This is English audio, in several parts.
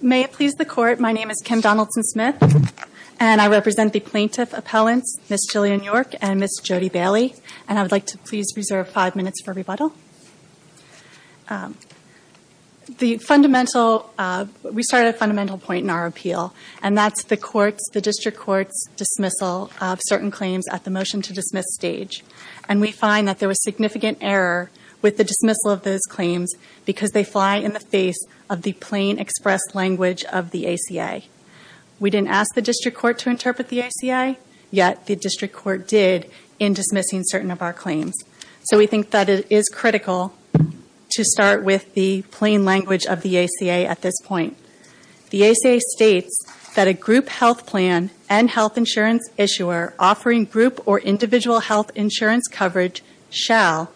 May it please the Court, my name is Kim Donaldson-Smith, and I represent the plaintiff appellants Ms. Jillian York and Ms. Jody Bailey, and I would like to please reserve five minutes for rebuttal. We started at a fundamental point in our appeal, and that is the District Court's dismissal of certain claims at the motion to dismiss stage. And we find that there was significant error with the dismissal of those claims because they fly in the face of the plain express language of the ACA. We didn't ask the District Court to interpret the ACA, yet the District Court did in dismissing certain of our claims. So we think that it is critical to start with the plain language of the ACA at this point. The ACA states that a group health plan and health insurance issuer offering group or individual health insurance coverage shall,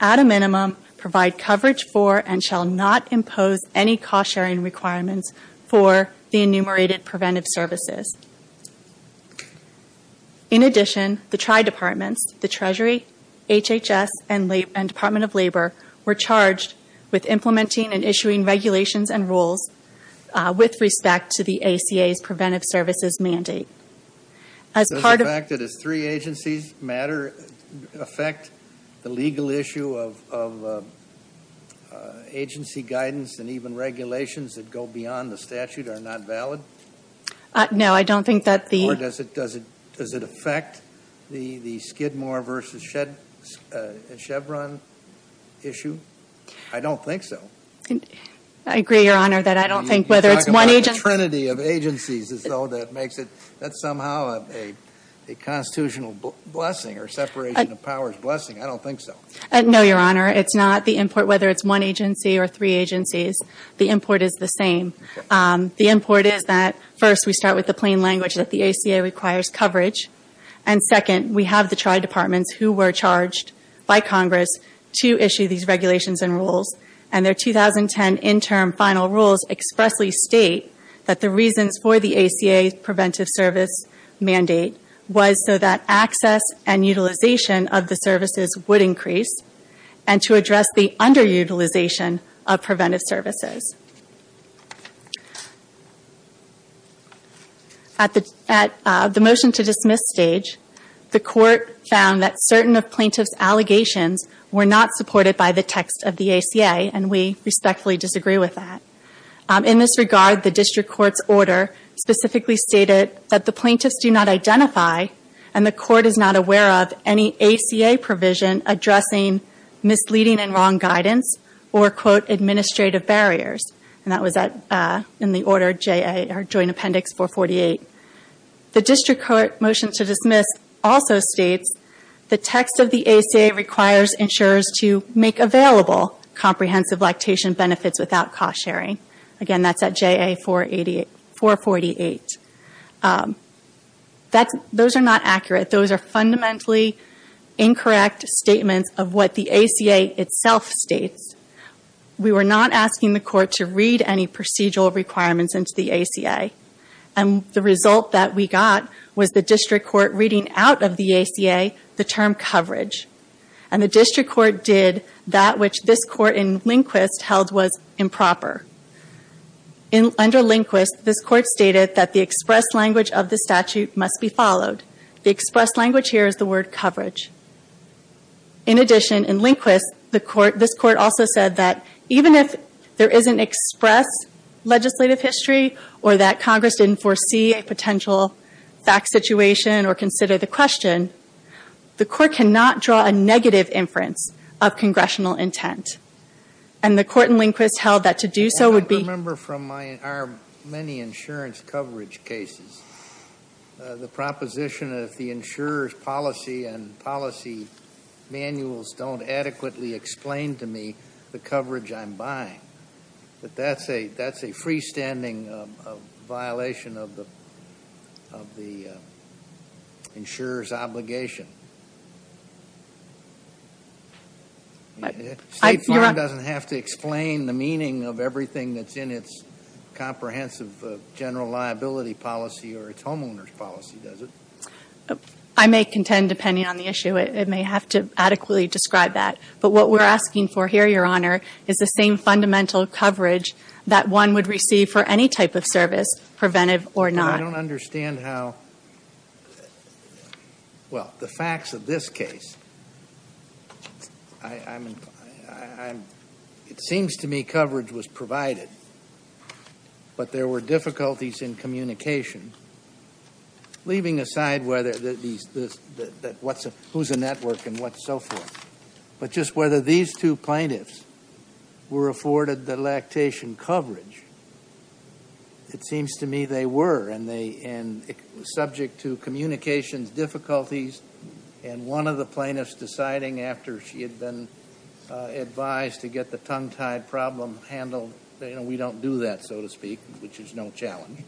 at a minimum, provide coverage for and shall not impose any cost sharing requirements for the enumerated preventive services. In addition, the Tri-Departments, the Treasury, HHS, and the Department of Labor were charged with implementing and issuing regulations and rules with respect to the ACA's preventive services mandate. Does the fact that it's three agencies matter affect the legal issue of agency guidance and even regulations that go beyond the statute are not valid? No, I don't think that the... Or does it affect the Skidmore versus Chevron issue? I don't think so. I agree, Your Honor, that I don't think whether it's one agency... You talk about the trinity of agencies as though that makes it, that's somehow a constitutional blessing or separation of powers blessing. I don't think so. No, Your Honor, it's not. The import, whether it's one agency or three agencies, the import is the same. The import is that, first, we start with the plain language that the ACA requires coverage, and second, we have the Tri-Departments who were charged by Congress to issue these regulations and rules, and their 2010 interim final rules expressly state that the reasons for the ACA's preventive service mandate was so that access and utilization of the services would increase and to address the underutilization of preventive services. At the motion to dismiss stage, the court found that certain of plaintiff's allegations were not supported by the text of the ACA, and we respectfully disagree with that. In this regard, the district court's order specifically stated that the plaintiffs do not identify and the court is not aware of any ACA provision addressing misleading and wrong guidance or, quote, administrative barriers, and that was in the order of Joint Appendix 448. The district court motion to dismiss also states the text of the ACA requires insurers to make available comprehensive lactation benefits without cost sharing. Again, that's at JA 448. Those are not accurate. Those are fundamentally incorrect statements of what the ACA itself states. We were not asking the court to read any procedural requirements into the ACA, and the result that we got was the district court reading out of the ACA the term coverage, and the district court did that which this court in Lindquist held was improper. Under Lindquist, this court stated that the express language of the statute must be followed. The express language here is the word coverage. In addition, in Lindquist, this court also said that even if there is an express legislative history or that Congress didn't foresee a potential fact situation or consider the question, the court cannot draw a negative inference of congressional intent, and the court in Lindquist held that to do so would be- I remember from our many insurance coverage cases the proposition of the insurer's policy and policy manuals don't adequately explain to me the coverage I'm buying. That's a freestanding violation of the insurer's obligation. State law doesn't have to explain the meaning of everything that's in its comprehensive general liability policy or its homeowner's policy, does it? I may contend, depending on the issue, it may have to adequately describe that. But what we're asking for here, Your Honor, is the same fundamental coverage that one would receive for any type of service, preventive or not. I don't understand how-well, the facts of this case, it seems to me coverage was provided, but there were difficulties in communication, leaving aside who's a network and what's so forth. But just whether these two plaintiffs were afforded the lactation coverage, it seems to me they were, and it was subject to communications difficulties, and one of the plaintiffs deciding after she had been advised to get the tongue-tied problem handled, you know, we don't do that, so to speak, which is no challenge.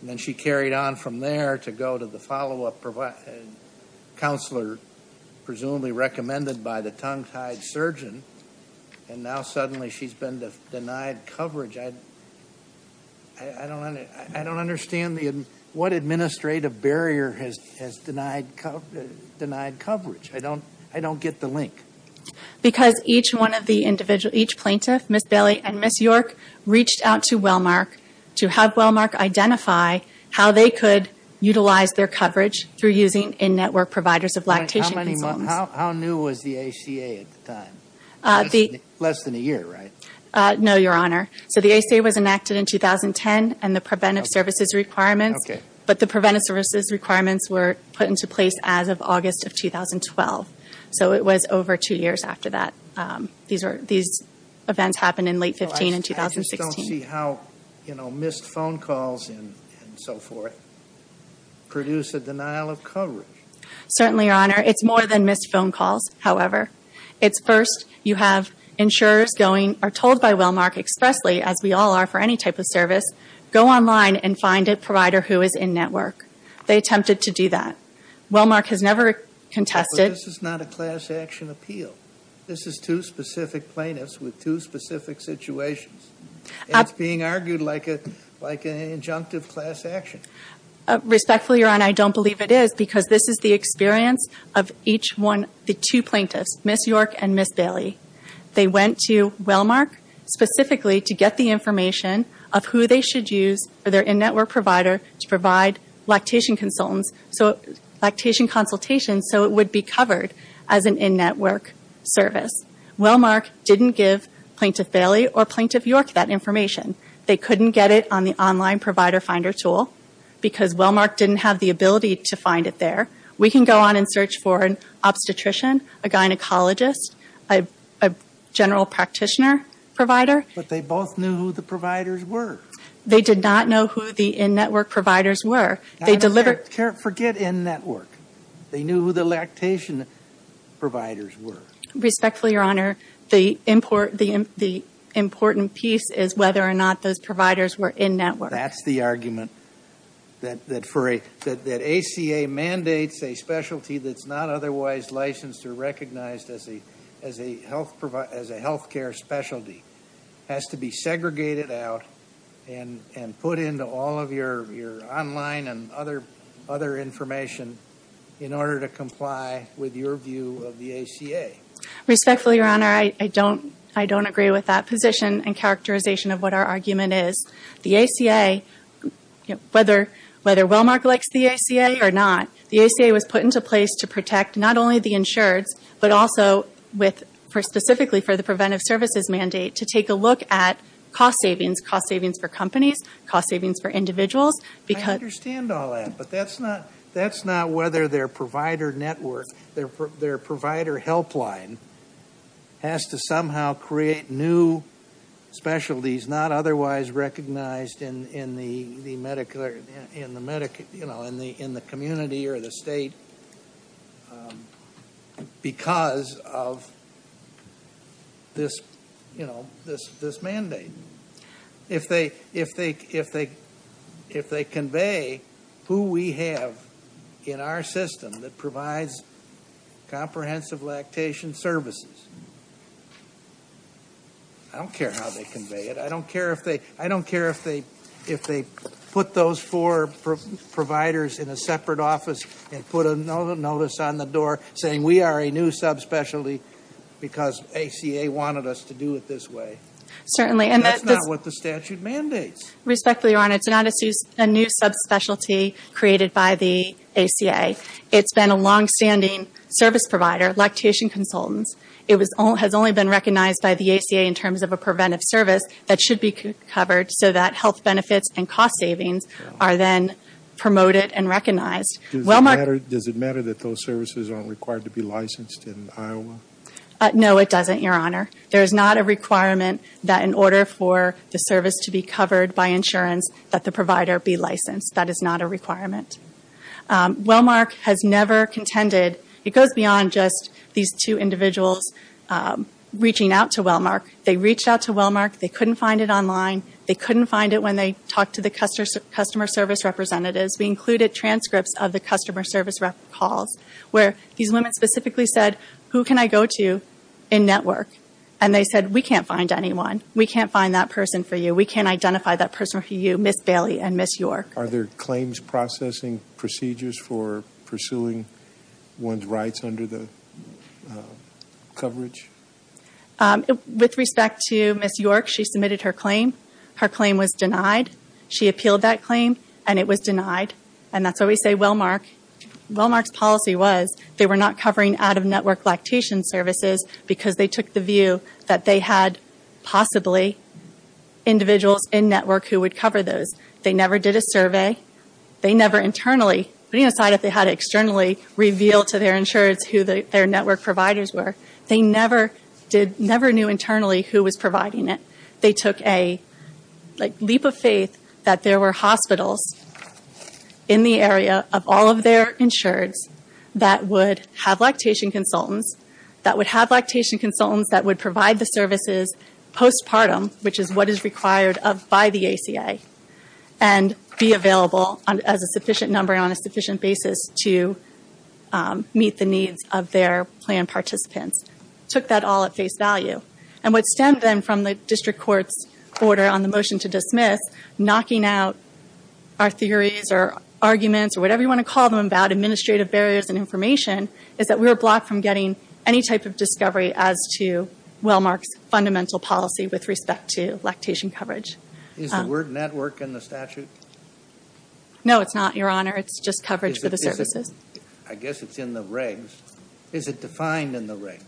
And then she carried on from there to go to the follow-up counselor, presumably recommended by the tongue-tied surgeon, and now suddenly she's been denied coverage. I don't understand what administrative barrier has denied coverage. I don't get the link. Because each plaintiff, Ms. Bailey and Ms. York, reached out to Wellmark to have Wellmark identify how they could utilize their coverage through using in-network providers of lactation consultants. How new was the ACA at the time? Less than a year, right? No, Your Honor. So the ACA was enacted in 2010 and the preventive services requirements, but the preventive services requirements were put into place as of August of 2012. So it was over two years after that. These events happened in late 2015 and 2016. I just don't see how missed phone calls and so forth produce a denial of coverage. Certainly, Your Honor. It's more than missed phone calls, however. It's first you have insurers going or told by Wellmark expressly, as we all are for any type of service, go online and find a provider who is in-network. They attempted to do that. Wellmark has never contested. But this is not a class action appeal. This is two specific plaintiffs with two specific situations. It's being argued like an injunctive class action. Respectfully, Your Honor, I don't believe it is because this is the experience of each one, the two plaintiffs, Ms. York and Ms. Bailey. They went to Wellmark specifically to get the information of who they should use for their in-network provider to provide lactation consultations so it would be covered as an in-network service. Wellmark didn't give Plaintiff Bailey or Plaintiff York that information. They couldn't get it on the online provider finder tool because Wellmark didn't have the ability to find it there. We can go on and search for an obstetrician, a gynecologist, a general practitioner provider. But they both knew who the providers were. They did not know who the in-network providers were. Forget in-network. They knew who the lactation providers were. Respectfully, Your Honor, the important piece is whether or not those providers were in-network. That's the argument that ACA mandates a specialty that's not otherwise licensed or recognized as a health care specialty has to be segregated out and put into all of your online and other information in order to comply with your view of the ACA. Respectfully, Your Honor, I don't agree with that position and characterization of what our argument is. The ACA, whether Wellmark likes the ACA or not, the ACA was put into place to protect not only the insureds, but also specifically for the preventive services mandate to take a look at cost savings, cost savings for companies, cost savings for individuals. I understand all that, but that's not whether their provider network, their provider helpline has to somehow create new specialties that are not otherwise recognized in the community or the state because of this mandate. If they convey who we have in our system that provides comprehensive lactation services, I don't care how they convey it. I don't care if they put those four providers in a separate office and put a notice on the door saying we are a new subspecialty because ACA wanted us to do it this way. Certainly. That's not what the statute mandates. Respectfully, Your Honor, it's not a new subspecialty created by the ACA. It's been a longstanding service provider, lactation consultants. It has only been recognized by the ACA in terms of a preventive service that should be covered so that health benefits and cost savings are then promoted and recognized. Does it matter that those services aren't required to be licensed in Iowa? No, it doesn't, Your Honor. There is not a requirement that in order for the service to be covered by insurance, That is not a requirement. Wellmark has never contended. It goes beyond just these two individuals reaching out to Wellmark. They reached out to Wellmark. They couldn't find it online. They couldn't find it when they talked to the customer service representatives. We included transcripts of the customer service calls where these women specifically said, Who can I go to in network? And they said, We can't find anyone. We can't find that person for you. We can't identify that person for you, Ms. Bailey and Ms. York. Are there claims processing procedures for pursuing one's rights under the coverage? With respect to Ms. York, she submitted her claim. Her claim was denied. She appealed that claim, and it was denied. And that's why we say Wellmark's policy was they were not covering out-of-network lactation services because they took the view that they had possibly individuals in network who would cover those. They never did a survey. They never internally, putting aside if they had to externally reveal to their insureds who their network providers were, they never knew internally who was providing it. They took a leap of faith that there were hospitals in the area of all of their insureds that would have lactation consultants that would provide the services postpartum, which is what is required by the ACA, and be available as a sufficient number on a sufficient basis to meet the needs of their plan participants. Took that all at face value. And what stemmed then from the district court's order on the motion to dismiss, knocking out our theories or arguments or whatever you want to call them about administrative barriers and information, is that we were blocked from getting any type of discovery as to Wellmark's fundamental policy with respect to lactation coverage. Is the word network in the statute? No, it's not, Your Honor. It's just coverage for the services. I guess it's in the regs. Is it defined in the regs?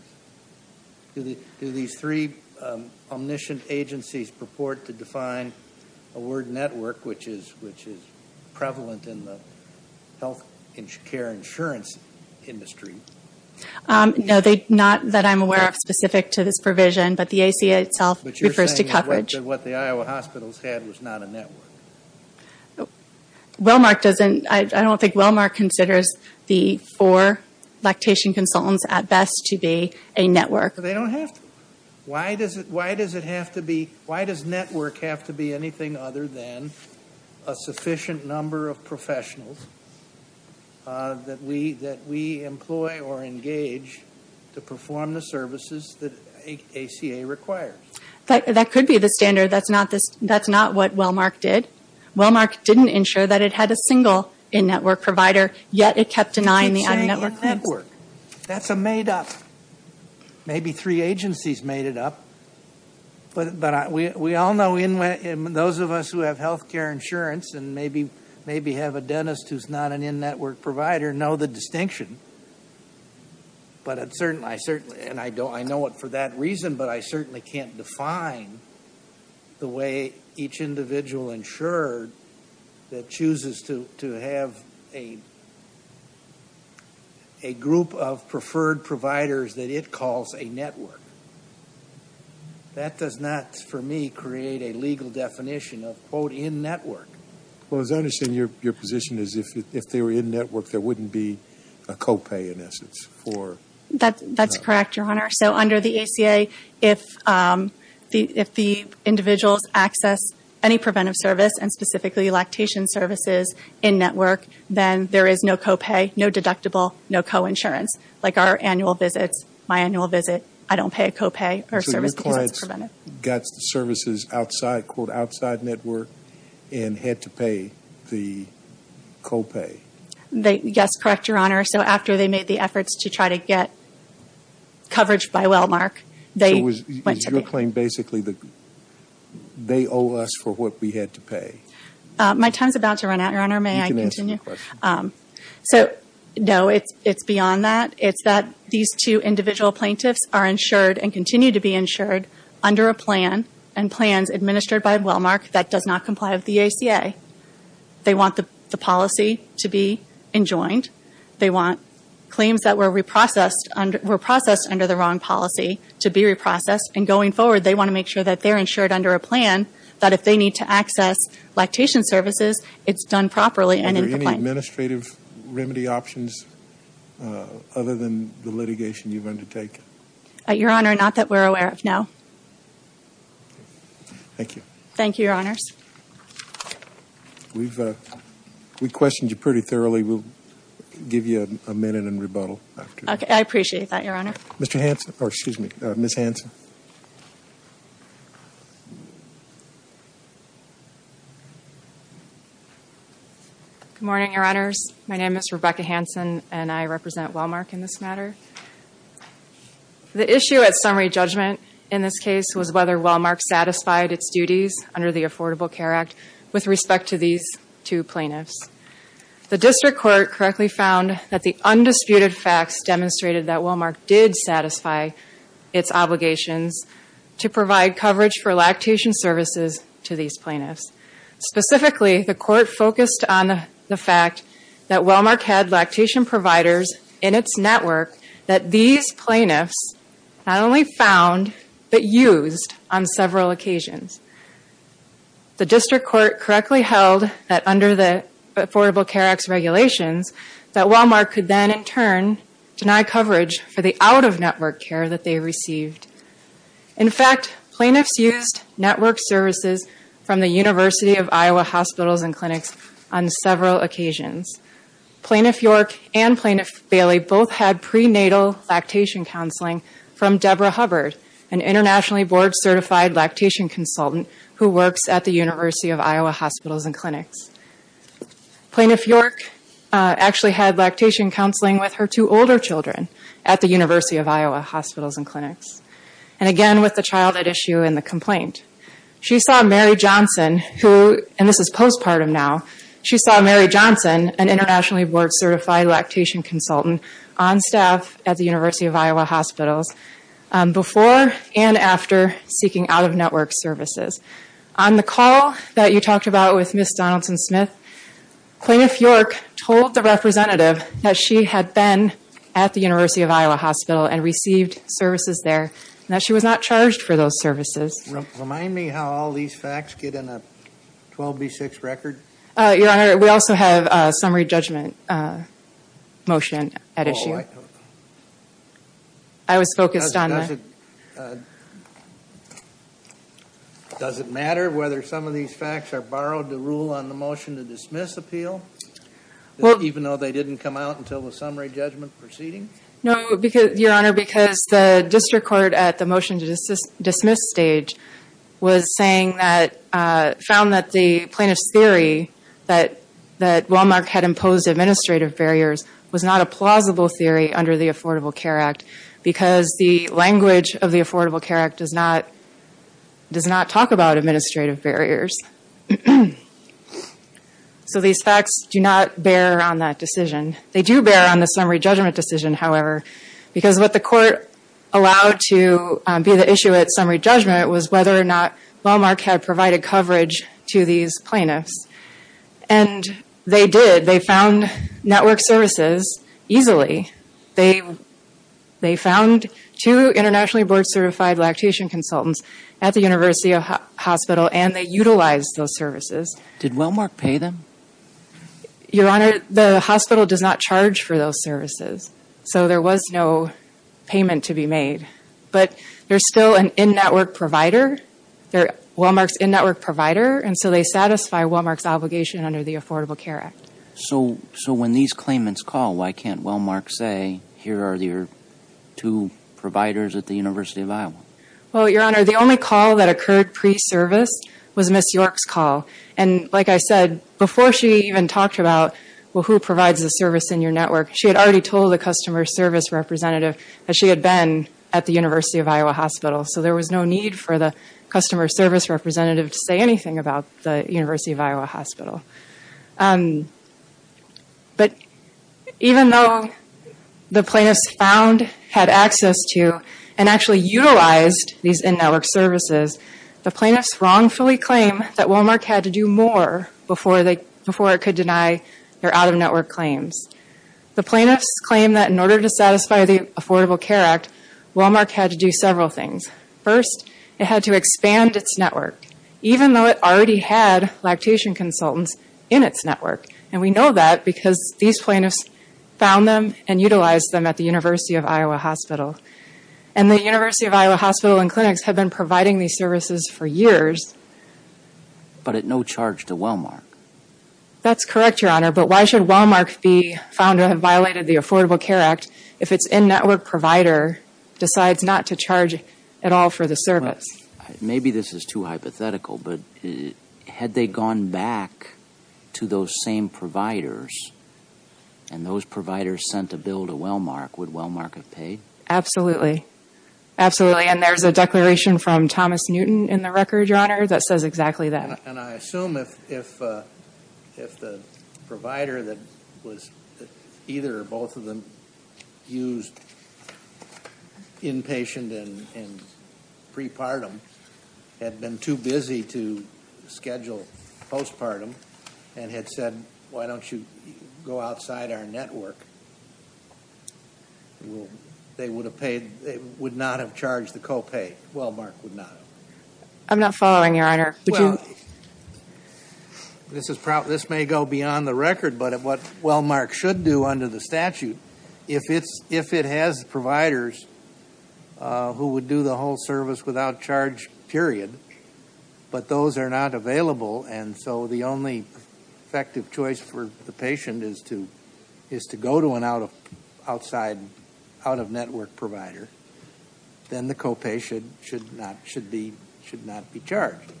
Do these three omniscient agencies purport to define a word network, which is prevalent in the health care insurance industry? No, not that I'm aware of specific to this provision, but the ACA itself refers to coverage. But you're saying that what the Iowa hospitals had was not a network. I don't think Wellmark considers the four lactation consultants at best to be a network. They don't have to. Why does network have to be anything other than a sufficient number of professionals that we employ or engage to perform the services that ACA requires? That could be the standard. That's not what Wellmark did. Wellmark didn't ensure that it had a single in-network provider, yet it kept denying the under-network claims. That's a made-up. Maybe three agencies made it up. But we all know those of us who have health care insurance and maybe have a dentist who's not an in-network provider know the distinction. I know it for that reason, but I certainly can't define the way each individual insured that chooses to have a group of preferred providers that it calls a network. That does not, for me, create a legal definition of, quote, in-network. Well, as I understand, your position is if they were in-network, there wouldn't be a co-pay, in essence, for That's correct, Your Honor. So under the ACA, if the individuals access any preventive service and specifically lactation services in-network, then there is no co-pay, no deductible, no co-insurance. Like our annual visits, my annual visit, I don't pay a co-pay or service because it's preventive. They got the services outside, quote, outside-network and had to pay the co-pay. Yes, correct, Your Honor. So after they made the efforts to try to get coverage by Wellmark, they went to pay. So is your claim basically that they owe us for what we had to pay? My time's about to run out, Your Honor. May I continue? You can answer the question. No, it's beyond that. It's that these two individual plaintiffs are insured and continue to be insured under a plan and plans administered by Wellmark that does not comply with the ACA. They want the policy to be enjoined. They want claims that were reprocessed under the wrong policy to be reprocessed. And going forward, they want to make sure that they're insured under a plan, that if they need to access lactation services, it's done properly and in the plan. Any administrative remedy options other than the litigation you've undertaken? Your Honor, not that we're aware of, no. Thank you. Thank you, Your Honors. We've questioned you pretty thoroughly. We'll give you a minute in rebuttal. I appreciate that, Your Honor. Mr. Hanson, or excuse me, Ms. Hanson. Ms. Hanson. Good morning, Your Honors. My name is Rebecca Hanson, and I represent Wellmark in this matter. The issue at summary judgment in this case was whether Wellmark satisfied its duties under the Affordable Care Act with respect to these two plaintiffs. The district court correctly found that the undisputed facts demonstrated that Wellmark did satisfy its obligations to provide coverage for lactation services to these plaintiffs. Specifically, the court focused on the fact that Wellmark had lactation providers in its network that these plaintiffs not only found but used on several occasions. The district court correctly held that under the Affordable Care Act's regulations, that Wellmark could then in turn deny coverage for the out-of-network care that they received. In fact, plaintiffs used network services from the University of Iowa Hospitals and Clinics on several occasions. Plaintiff York and Plaintiff Bailey both had prenatal lactation counseling from Deborah Hubbard, an internationally board-certified lactation consultant who works at the University of Iowa Hospitals and Clinics. Plaintiff York actually had lactation counseling with her two older children at the University of Iowa Hospitals and Clinics, and again with the child at issue in the complaint. She saw Mary Johnson, and this is postpartum now, she saw Mary Johnson, an internationally board-certified lactation consultant, on staff at the University of Iowa Hospitals before and after seeking out-of-network services. On the call that you talked about with Ms. Donaldson-Smith, Plaintiff York told the representative that she had been at the University of Iowa Hospital and received services there, and that she was not charged for those services. Remind me how all these facts get in a 12B6 record? Your Honor, we also have a summary judgment motion at issue. I was focused on that. Does it matter whether some of these facts are borrowed to rule on the motion to dismiss appeal, even though they didn't come out until the summary judgment proceeding? No, Your Honor, because the district court at the motion to dismiss stage was saying that, found that the plaintiff's theory that Walmart had imposed administrative barriers was not a plausible theory under the Affordable Care Act, because the language of the Affordable Care Act does not talk about administrative barriers. So these facts do not bear on that decision. They do bear on the summary judgment decision, however, because what the court allowed to be the issue at summary judgment was whether or not Walmart had provided coverage to these plaintiffs. And they did. They found network services easily. They found two internationally board-certified lactation consultants at the University of Iowa Hospital, and they utilized those services. Did Walmart pay them? Your Honor, the hospital does not charge for those services. So there was no payment to be made. But they're still an in-network provider. They're Walmart's in-network provider, and so they satisfy Walmart's obligation under the Affordable Care Act. So when these claimants call, why can't Walmart say, here are your two providers at the University of Iowa? Well, Your Honor, the only call that occurred pre-service was Ms. York's call. And like I said, before she even talked about, well, who provides the service in your network, she had already told the customer service representative that she had been at the University of Iowa Hospital. So there was no need for the customer service representative to say anything about the University of Iowa Hospital. But even though the plaintiffs found, had access to, and actually utilized these in-network services, the plaintiffs wrongfully claim that Walmart had to do more before it could deny their out-of-network claims. The plaintiffs claim that in order to satisfy the Affordable Care Act, Walmart had to do several things. First, it had to expand its network, even though it already had lactation consultants in its network. And we know that because these plaintiffs found them and utilized them at the University of Iowa Hospital. And the University of Iowa Hospital and clinics have been providing these services for years. But at no charge to Walmart. That's correct, Your Honor. But why should Walmart be found to have violated the Affordable Care Act if its in-network provider decides not to charge at all for the service? Maybe this is too hypothetical, but had they gone back to those same providers and those providers sent a bill to Walmart, would Walmart have paid? Absolutely. Absolutely. And there's a declaration from Thomas Newton in the record, Your Honor, that says exactly that. And I assume if the provider that either or both of them used inpatient and pre-partum had been too busy to schedule post-partum and had said, why don't you go outside our network, they would not have charged the co-pay. Walmart would not. I'm not following, Your Honor. Well, this may go beyond the record, but what Walmart should do under the statute, if it has providers who would do the whole service without charge, period, but those are not available and so the only effective choice for the patient is to go to an out-of-network provider, then the co-pay should not be charged.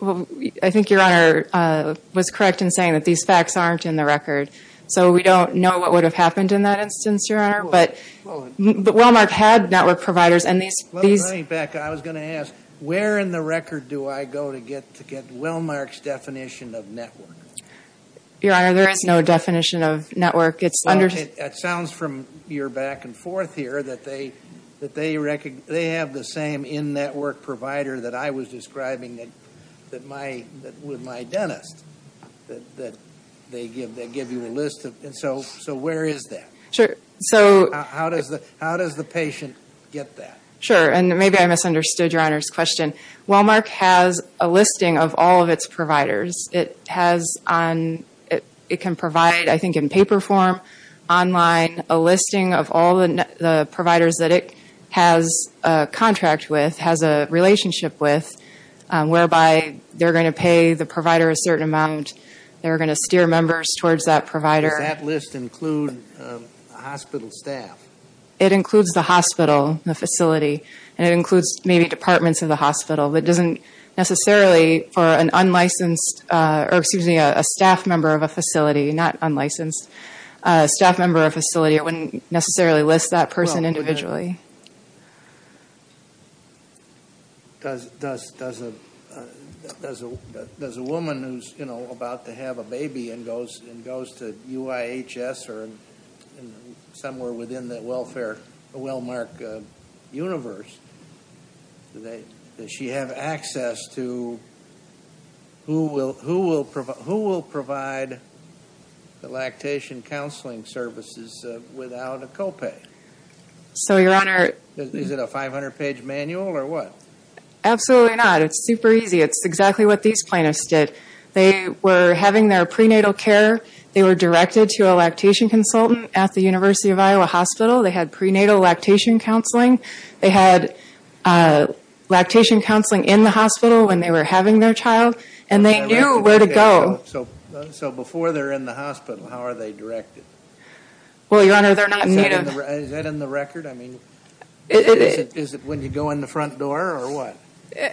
Well, I think Your Honor was correct in saying that these facts aren't in the record, so we don't know what would have happened in that instance, Your Honor, but Walmart had network providers and these... Well, going back, I was going to ask, where in the record do I go to get Walmart's definition of network? Your Honor, there is no definition of network. Well, it sounds from your back and forth here that they have the same in-network provider that I was describing with my dentist, that they give you a list, and so where is that? Sure. How does the patient get that? Sure, and maybe I misunderstood Your Honor's question. Walmart has a listing of all of its providers. It has on... It can provide, I think, in paper form, online, a listing of all the providers that it has a contract with, has a relationship with, whereby they're going to pay the provider a certain amount. They're going to steer members towards that provider. Does that list include hospital staff? It includes the hospital, the facility, and it includes maybe departments of the hospital. It doesn't necessarily for an unlicensed, or excuse me, a staff member of a facility, not unlicensed, a staff member of a facility, it wouldn't necessarily list that person individually. Does a woman who's, you know, about to have a baby and goes to UIHS or somewhere within the Wellmark universe, does she have access to... Who will provide the lactation counseling services without a copay? So, Your Honor... Is it a 500-page manual or what? Absolutely not. It's super easy. It's exactly what these plaintiffs did. They were having their prenatal care. They were directed to a lactation consultant at the University of Iowa Hospital. They had prenatal lactation counseling. They had lactation counseling in the hospital when they were having their child, and they knew where to go. So before they're in the hospital, how are they directed? Well, Your Honor, they're not... Is that in the record? I mean, is it when you go in the front door or what?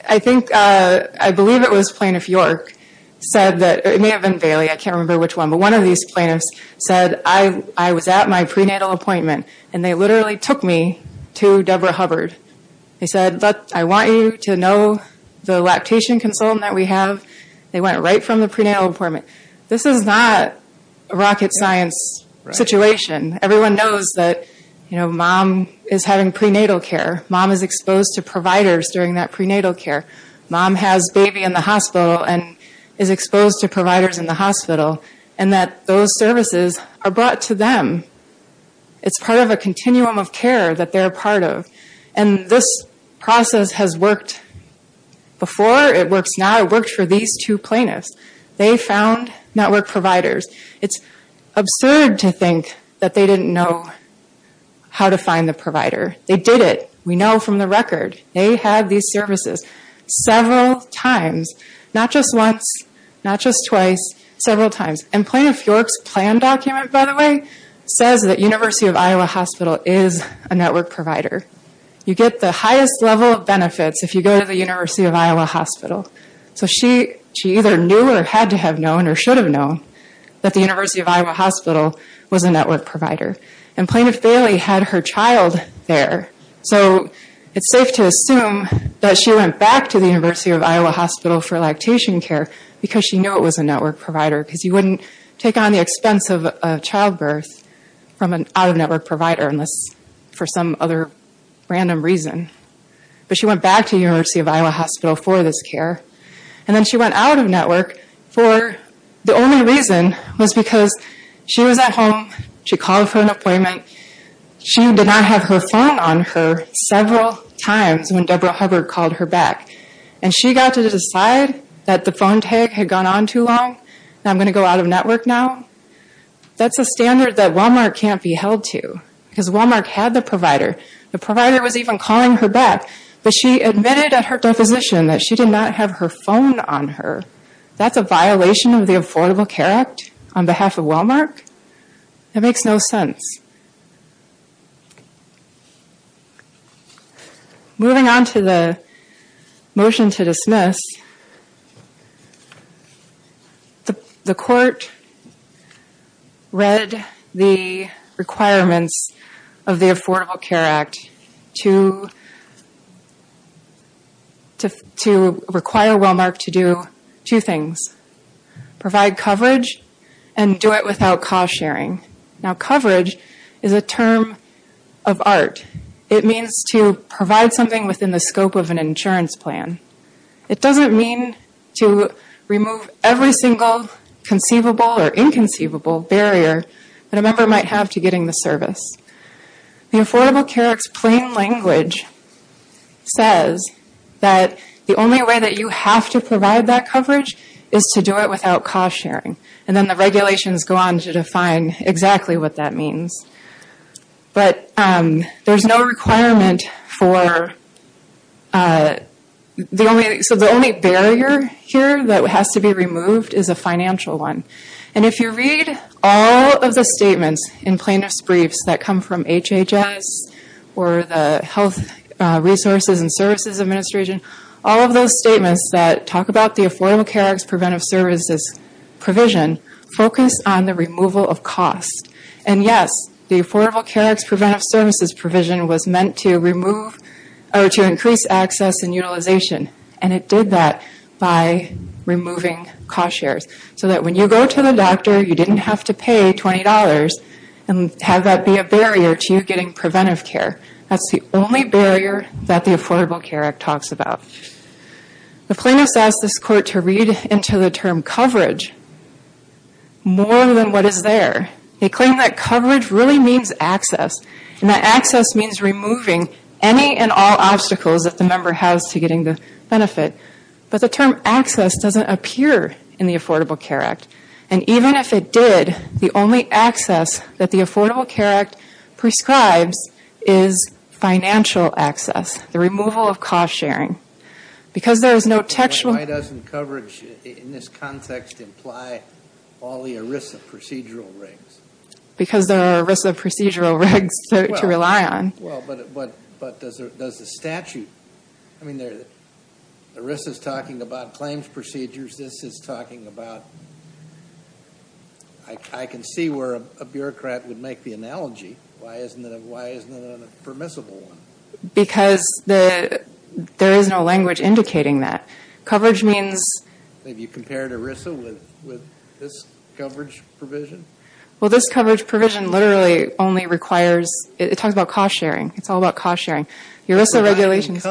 I think, I believe it was Plaintiff York said that, or it may have been Bailey, I can't remember which one, but one of these plaintiffs said, I was at my prenatal appointment, and they literally took me to Deborah Hubbard. They said, I want you to know the lactation consultant that we have. They went right from the prenatal appointment. This is not a rocket science situation. Everyone knows that, you know, mom is having prenatal care. Mom is exposed to providers during that prenatal care. Mom has baby in the hospital and is exposed to providers in the hospital, and that those services are brought to them. It's part of a continuum of care that they're a part of. And this process has worked before. It works now. It worked for these two plaintiffs. They found network providers. It's absurd to think that they didn't know how to find the provider. They did it. We know from the record. They had these services several times, not just once, not just twice, several times. And Plaintiff York's plan document, by the way, says that University of Iowa Hospital is a network provider. You get the highest level of benefits if you go to the University of Iowa Hospital. So she either knew or had to have known or should have known that the University of Iowa Hospital was a network provider. And Plaintiff Bailey had her child there. So it's safe to assume that she went back to the University of Iowa Hospital for lactation care because she knew it was a network provider because you wouldn't take on the expense of a childbirth from an out-of-network provider unless for some other random reason. But she went back to the University of Iowa Hospital for this care. And then she went out of network for the only reason was because she was at home. She called for an appointment. She did not have her phone on her several times when Deborah Hubbard called her back. And she got to decide that the phone tag had gone on too long and I'm going to go out of network now. That's a standard that Wellmark can't be held to because Wellmark had the provider. The provider was even calling her back. But she admitted at her deposition that she did not have her phone on her. That's a violation of the Affordable Care Act on behalf of Wellmark? That makes no sense. Moving on to the motion to dismiss, the court read the requirements of the Affordable Care Act to require Wellmark to do two things. Provide coverage and do it without cost sharing. Now coverage is a term of art. It means to provide something within the scope of an insurance plan. It doesn't mean to remove every single conceivable or inconceivable barrier that a member might have to getting the service. The Affordable Care Act's plain language says that the only way that you have to provide that coverage is to do it without cost sharing. And then the regulations go on to define exactly what that means. But there's no requirement for the only barrier here that has to be removed is a financial one. And if you read all of the statements in plaintiff's briefs that come from HHS or the Health Resources and Services Administration, all of those statements that talk about the Affordable Care Act's preventive services provision focus on the removal of cost. And yes, the Affordable Care Act's preventive services provision was meant to increase access and utilization. And it did that by removing cost shares. So that when you go to the doctor, you didn't have to pay $20 and have that be a barrier to you getting preventive care. That's the only barrier that the Affordable Care Act talks about. The plaintiffs asked this court to read into the term coverage more than what is there. They claim that coverage really means access. And that access means removing any and all obstacles that the member has to getting the benefit. But the term access doesn't appear in the Affordable Care Act. And even if it did, the only access that the Affordable Care Act prescribes is financial access, the removal of cost sharing. Because there is no textual... Why doesn't coverage in this context imply all the ERISA procedural regs? Because there are ERISA procedural regs to rely on. Well, but does the statute... I mean, ERISA is talking about claims procedures. This is talking about... I can see where a bureaucrat would make the analogy. Why isn't it a permissible one? Because there is no language indicating that. Coverage means... Have you compared ERISA with this coverage provision? Well, this coverage provision literally only requires... It talks about cost sharing. It's all about cost sharing. ERISA regulations...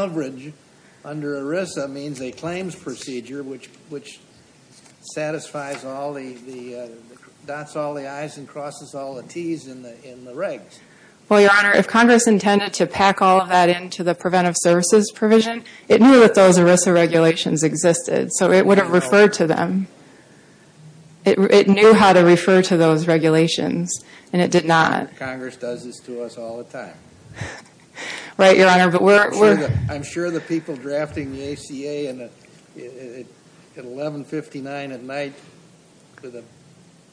which satisfies all the... dots all the I's and crosses all the T's in the regs. Well, Your Honor, if Congress intended to pack all of that into the preventive services provision, it knew that those ERISA regulations existed, so it would have referred to them. It knew how to refer to those regulations, and it did not. Congress does this to us all the time. Right, Your Honor, but we're... I'm sure the people drafting the ACA at 1159 at night with a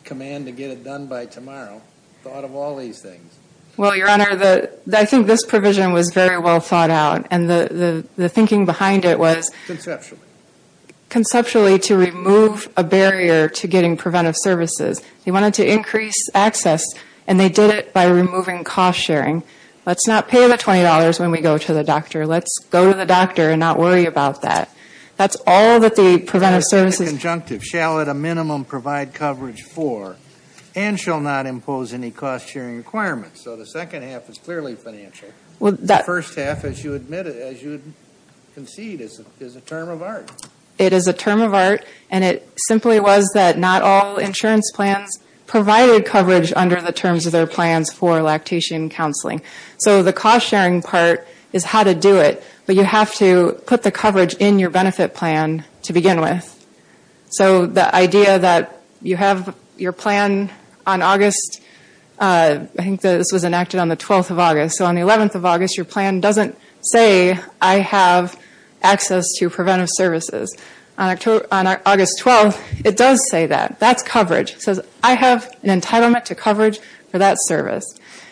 command to get it done by tomorrow thought of all these things. Well, Your Honor, I think this provision was very well thought out, and the thinking behind it was... Conceptually. Conceptually to remove a barrier to getting preventive services. They wanted to increase access, and they did it by removing cost sharing. Let's not pay the $20 when we go to the doctor. Let's go to the doctor and not worry about that. That's all that the preventive services... In the conjunctive, shall at a minimum provide coverage for and shall not impose any cost sharing requirements. So the second half is clearly financial. The first half, as you would concede, is a term of art. It is a term of art, and it simply was that not all insurance plans provided coverage under the terms of their plans for lactation counseling. So the cost sharing part is how to do it, but you have to put the coverage in your benefit plan to begin with. So the idea that you have your plan on August... I think this was enacted on the 12th of August. So on the 11th of August, your plan doesn't say, I have access to preventive services. On August 12th, it does say that. That's coverage. It says, I have an entitlement to coverage for that service.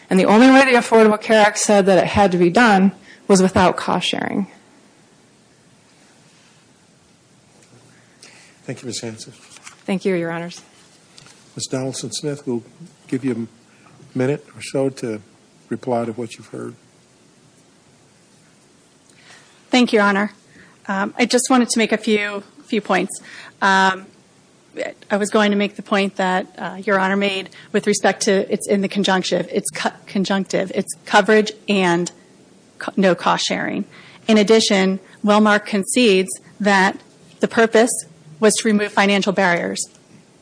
And the only way the Affordable Care Act said that it had to be done was without cost sharing. Thank you, Ms. Hanson. Thank you, Your Honors. Ms. Donaldson-Smith, we'll give you a minute or so to reply to what you've heard. Thank you, Your Honor. I just wanted to make a few points. I was going to make the point that Your Honor made with respect to it's in the conjunctive. It's conjunctive. It's coverage and no cost sharing. In addition, Wellmark concedes that the purpose was to remove financial barriers.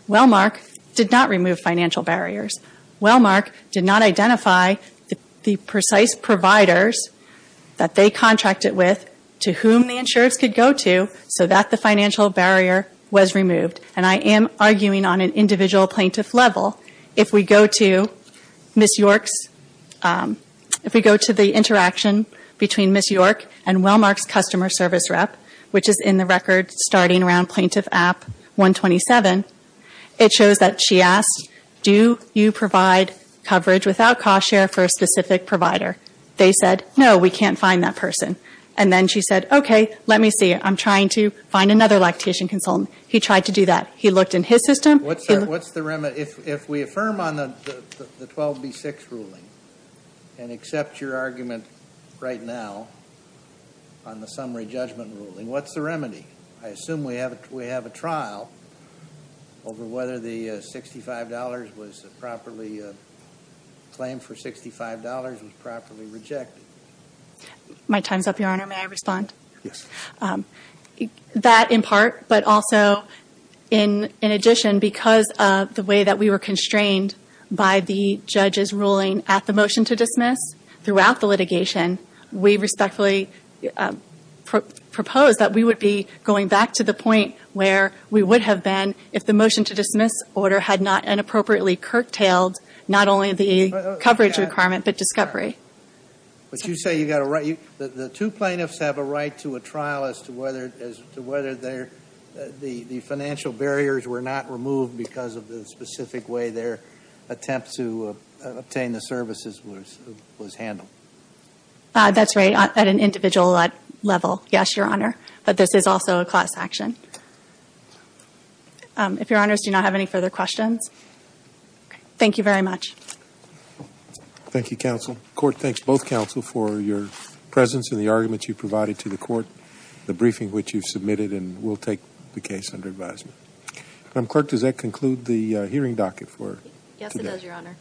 Wellmark did not remove financial barriers. Wellmark did not identify the precise providers that they contracted with to whom the insurers could go to so that the financial barrier was removed. And I am arguing on an individual plaintiff level, if we go to the interaction between Ms. York and Wellmark's customer service rep, which is in the record starting around Plaintiff App 127, it shows that she asked, do you provide coverage without cost share for a specific provider? They said, no, we can't find that person. And then she said, okay, let me see. I'm trying to find another lactation consultant. He tried to do that. He looked in his system. What's the remedy? If we affirm on the 12B6 ruling and accept your argument right now on the summary judgment ruling, what's the remedy? I assume we have a trial over whether the $65 was properly claimed for $65 was properly rejected. My time's up, Your Honor. May I respond? Yes. That in part, but also in addition, because of the way that we were constrained by the judge's ruling at the motion to dismiss, throughout the litigation, we respectfully propose that we would be going back to the point where we would have been if the motion to dismiss order had not inappropriately curtailed not only the coverage requirement, but discovery. But you say the two plaintiffs have a right to a trial as to whether the financial barriers were not removed because of the specific way their attempt to obtain the services was handled. That's right. At an individual level, yes, Your Honor. But this is also a class action. If Your Honors do not have any further questions. Thank you very much. Thank you, counsel. Court thanks both counsel for your presence and the arguments you provided to the court, the briefing which you submitted, and we'll take the case under advisement. Clerk, does that conclude the hearing docket for today? Yes, it does, Your Honor.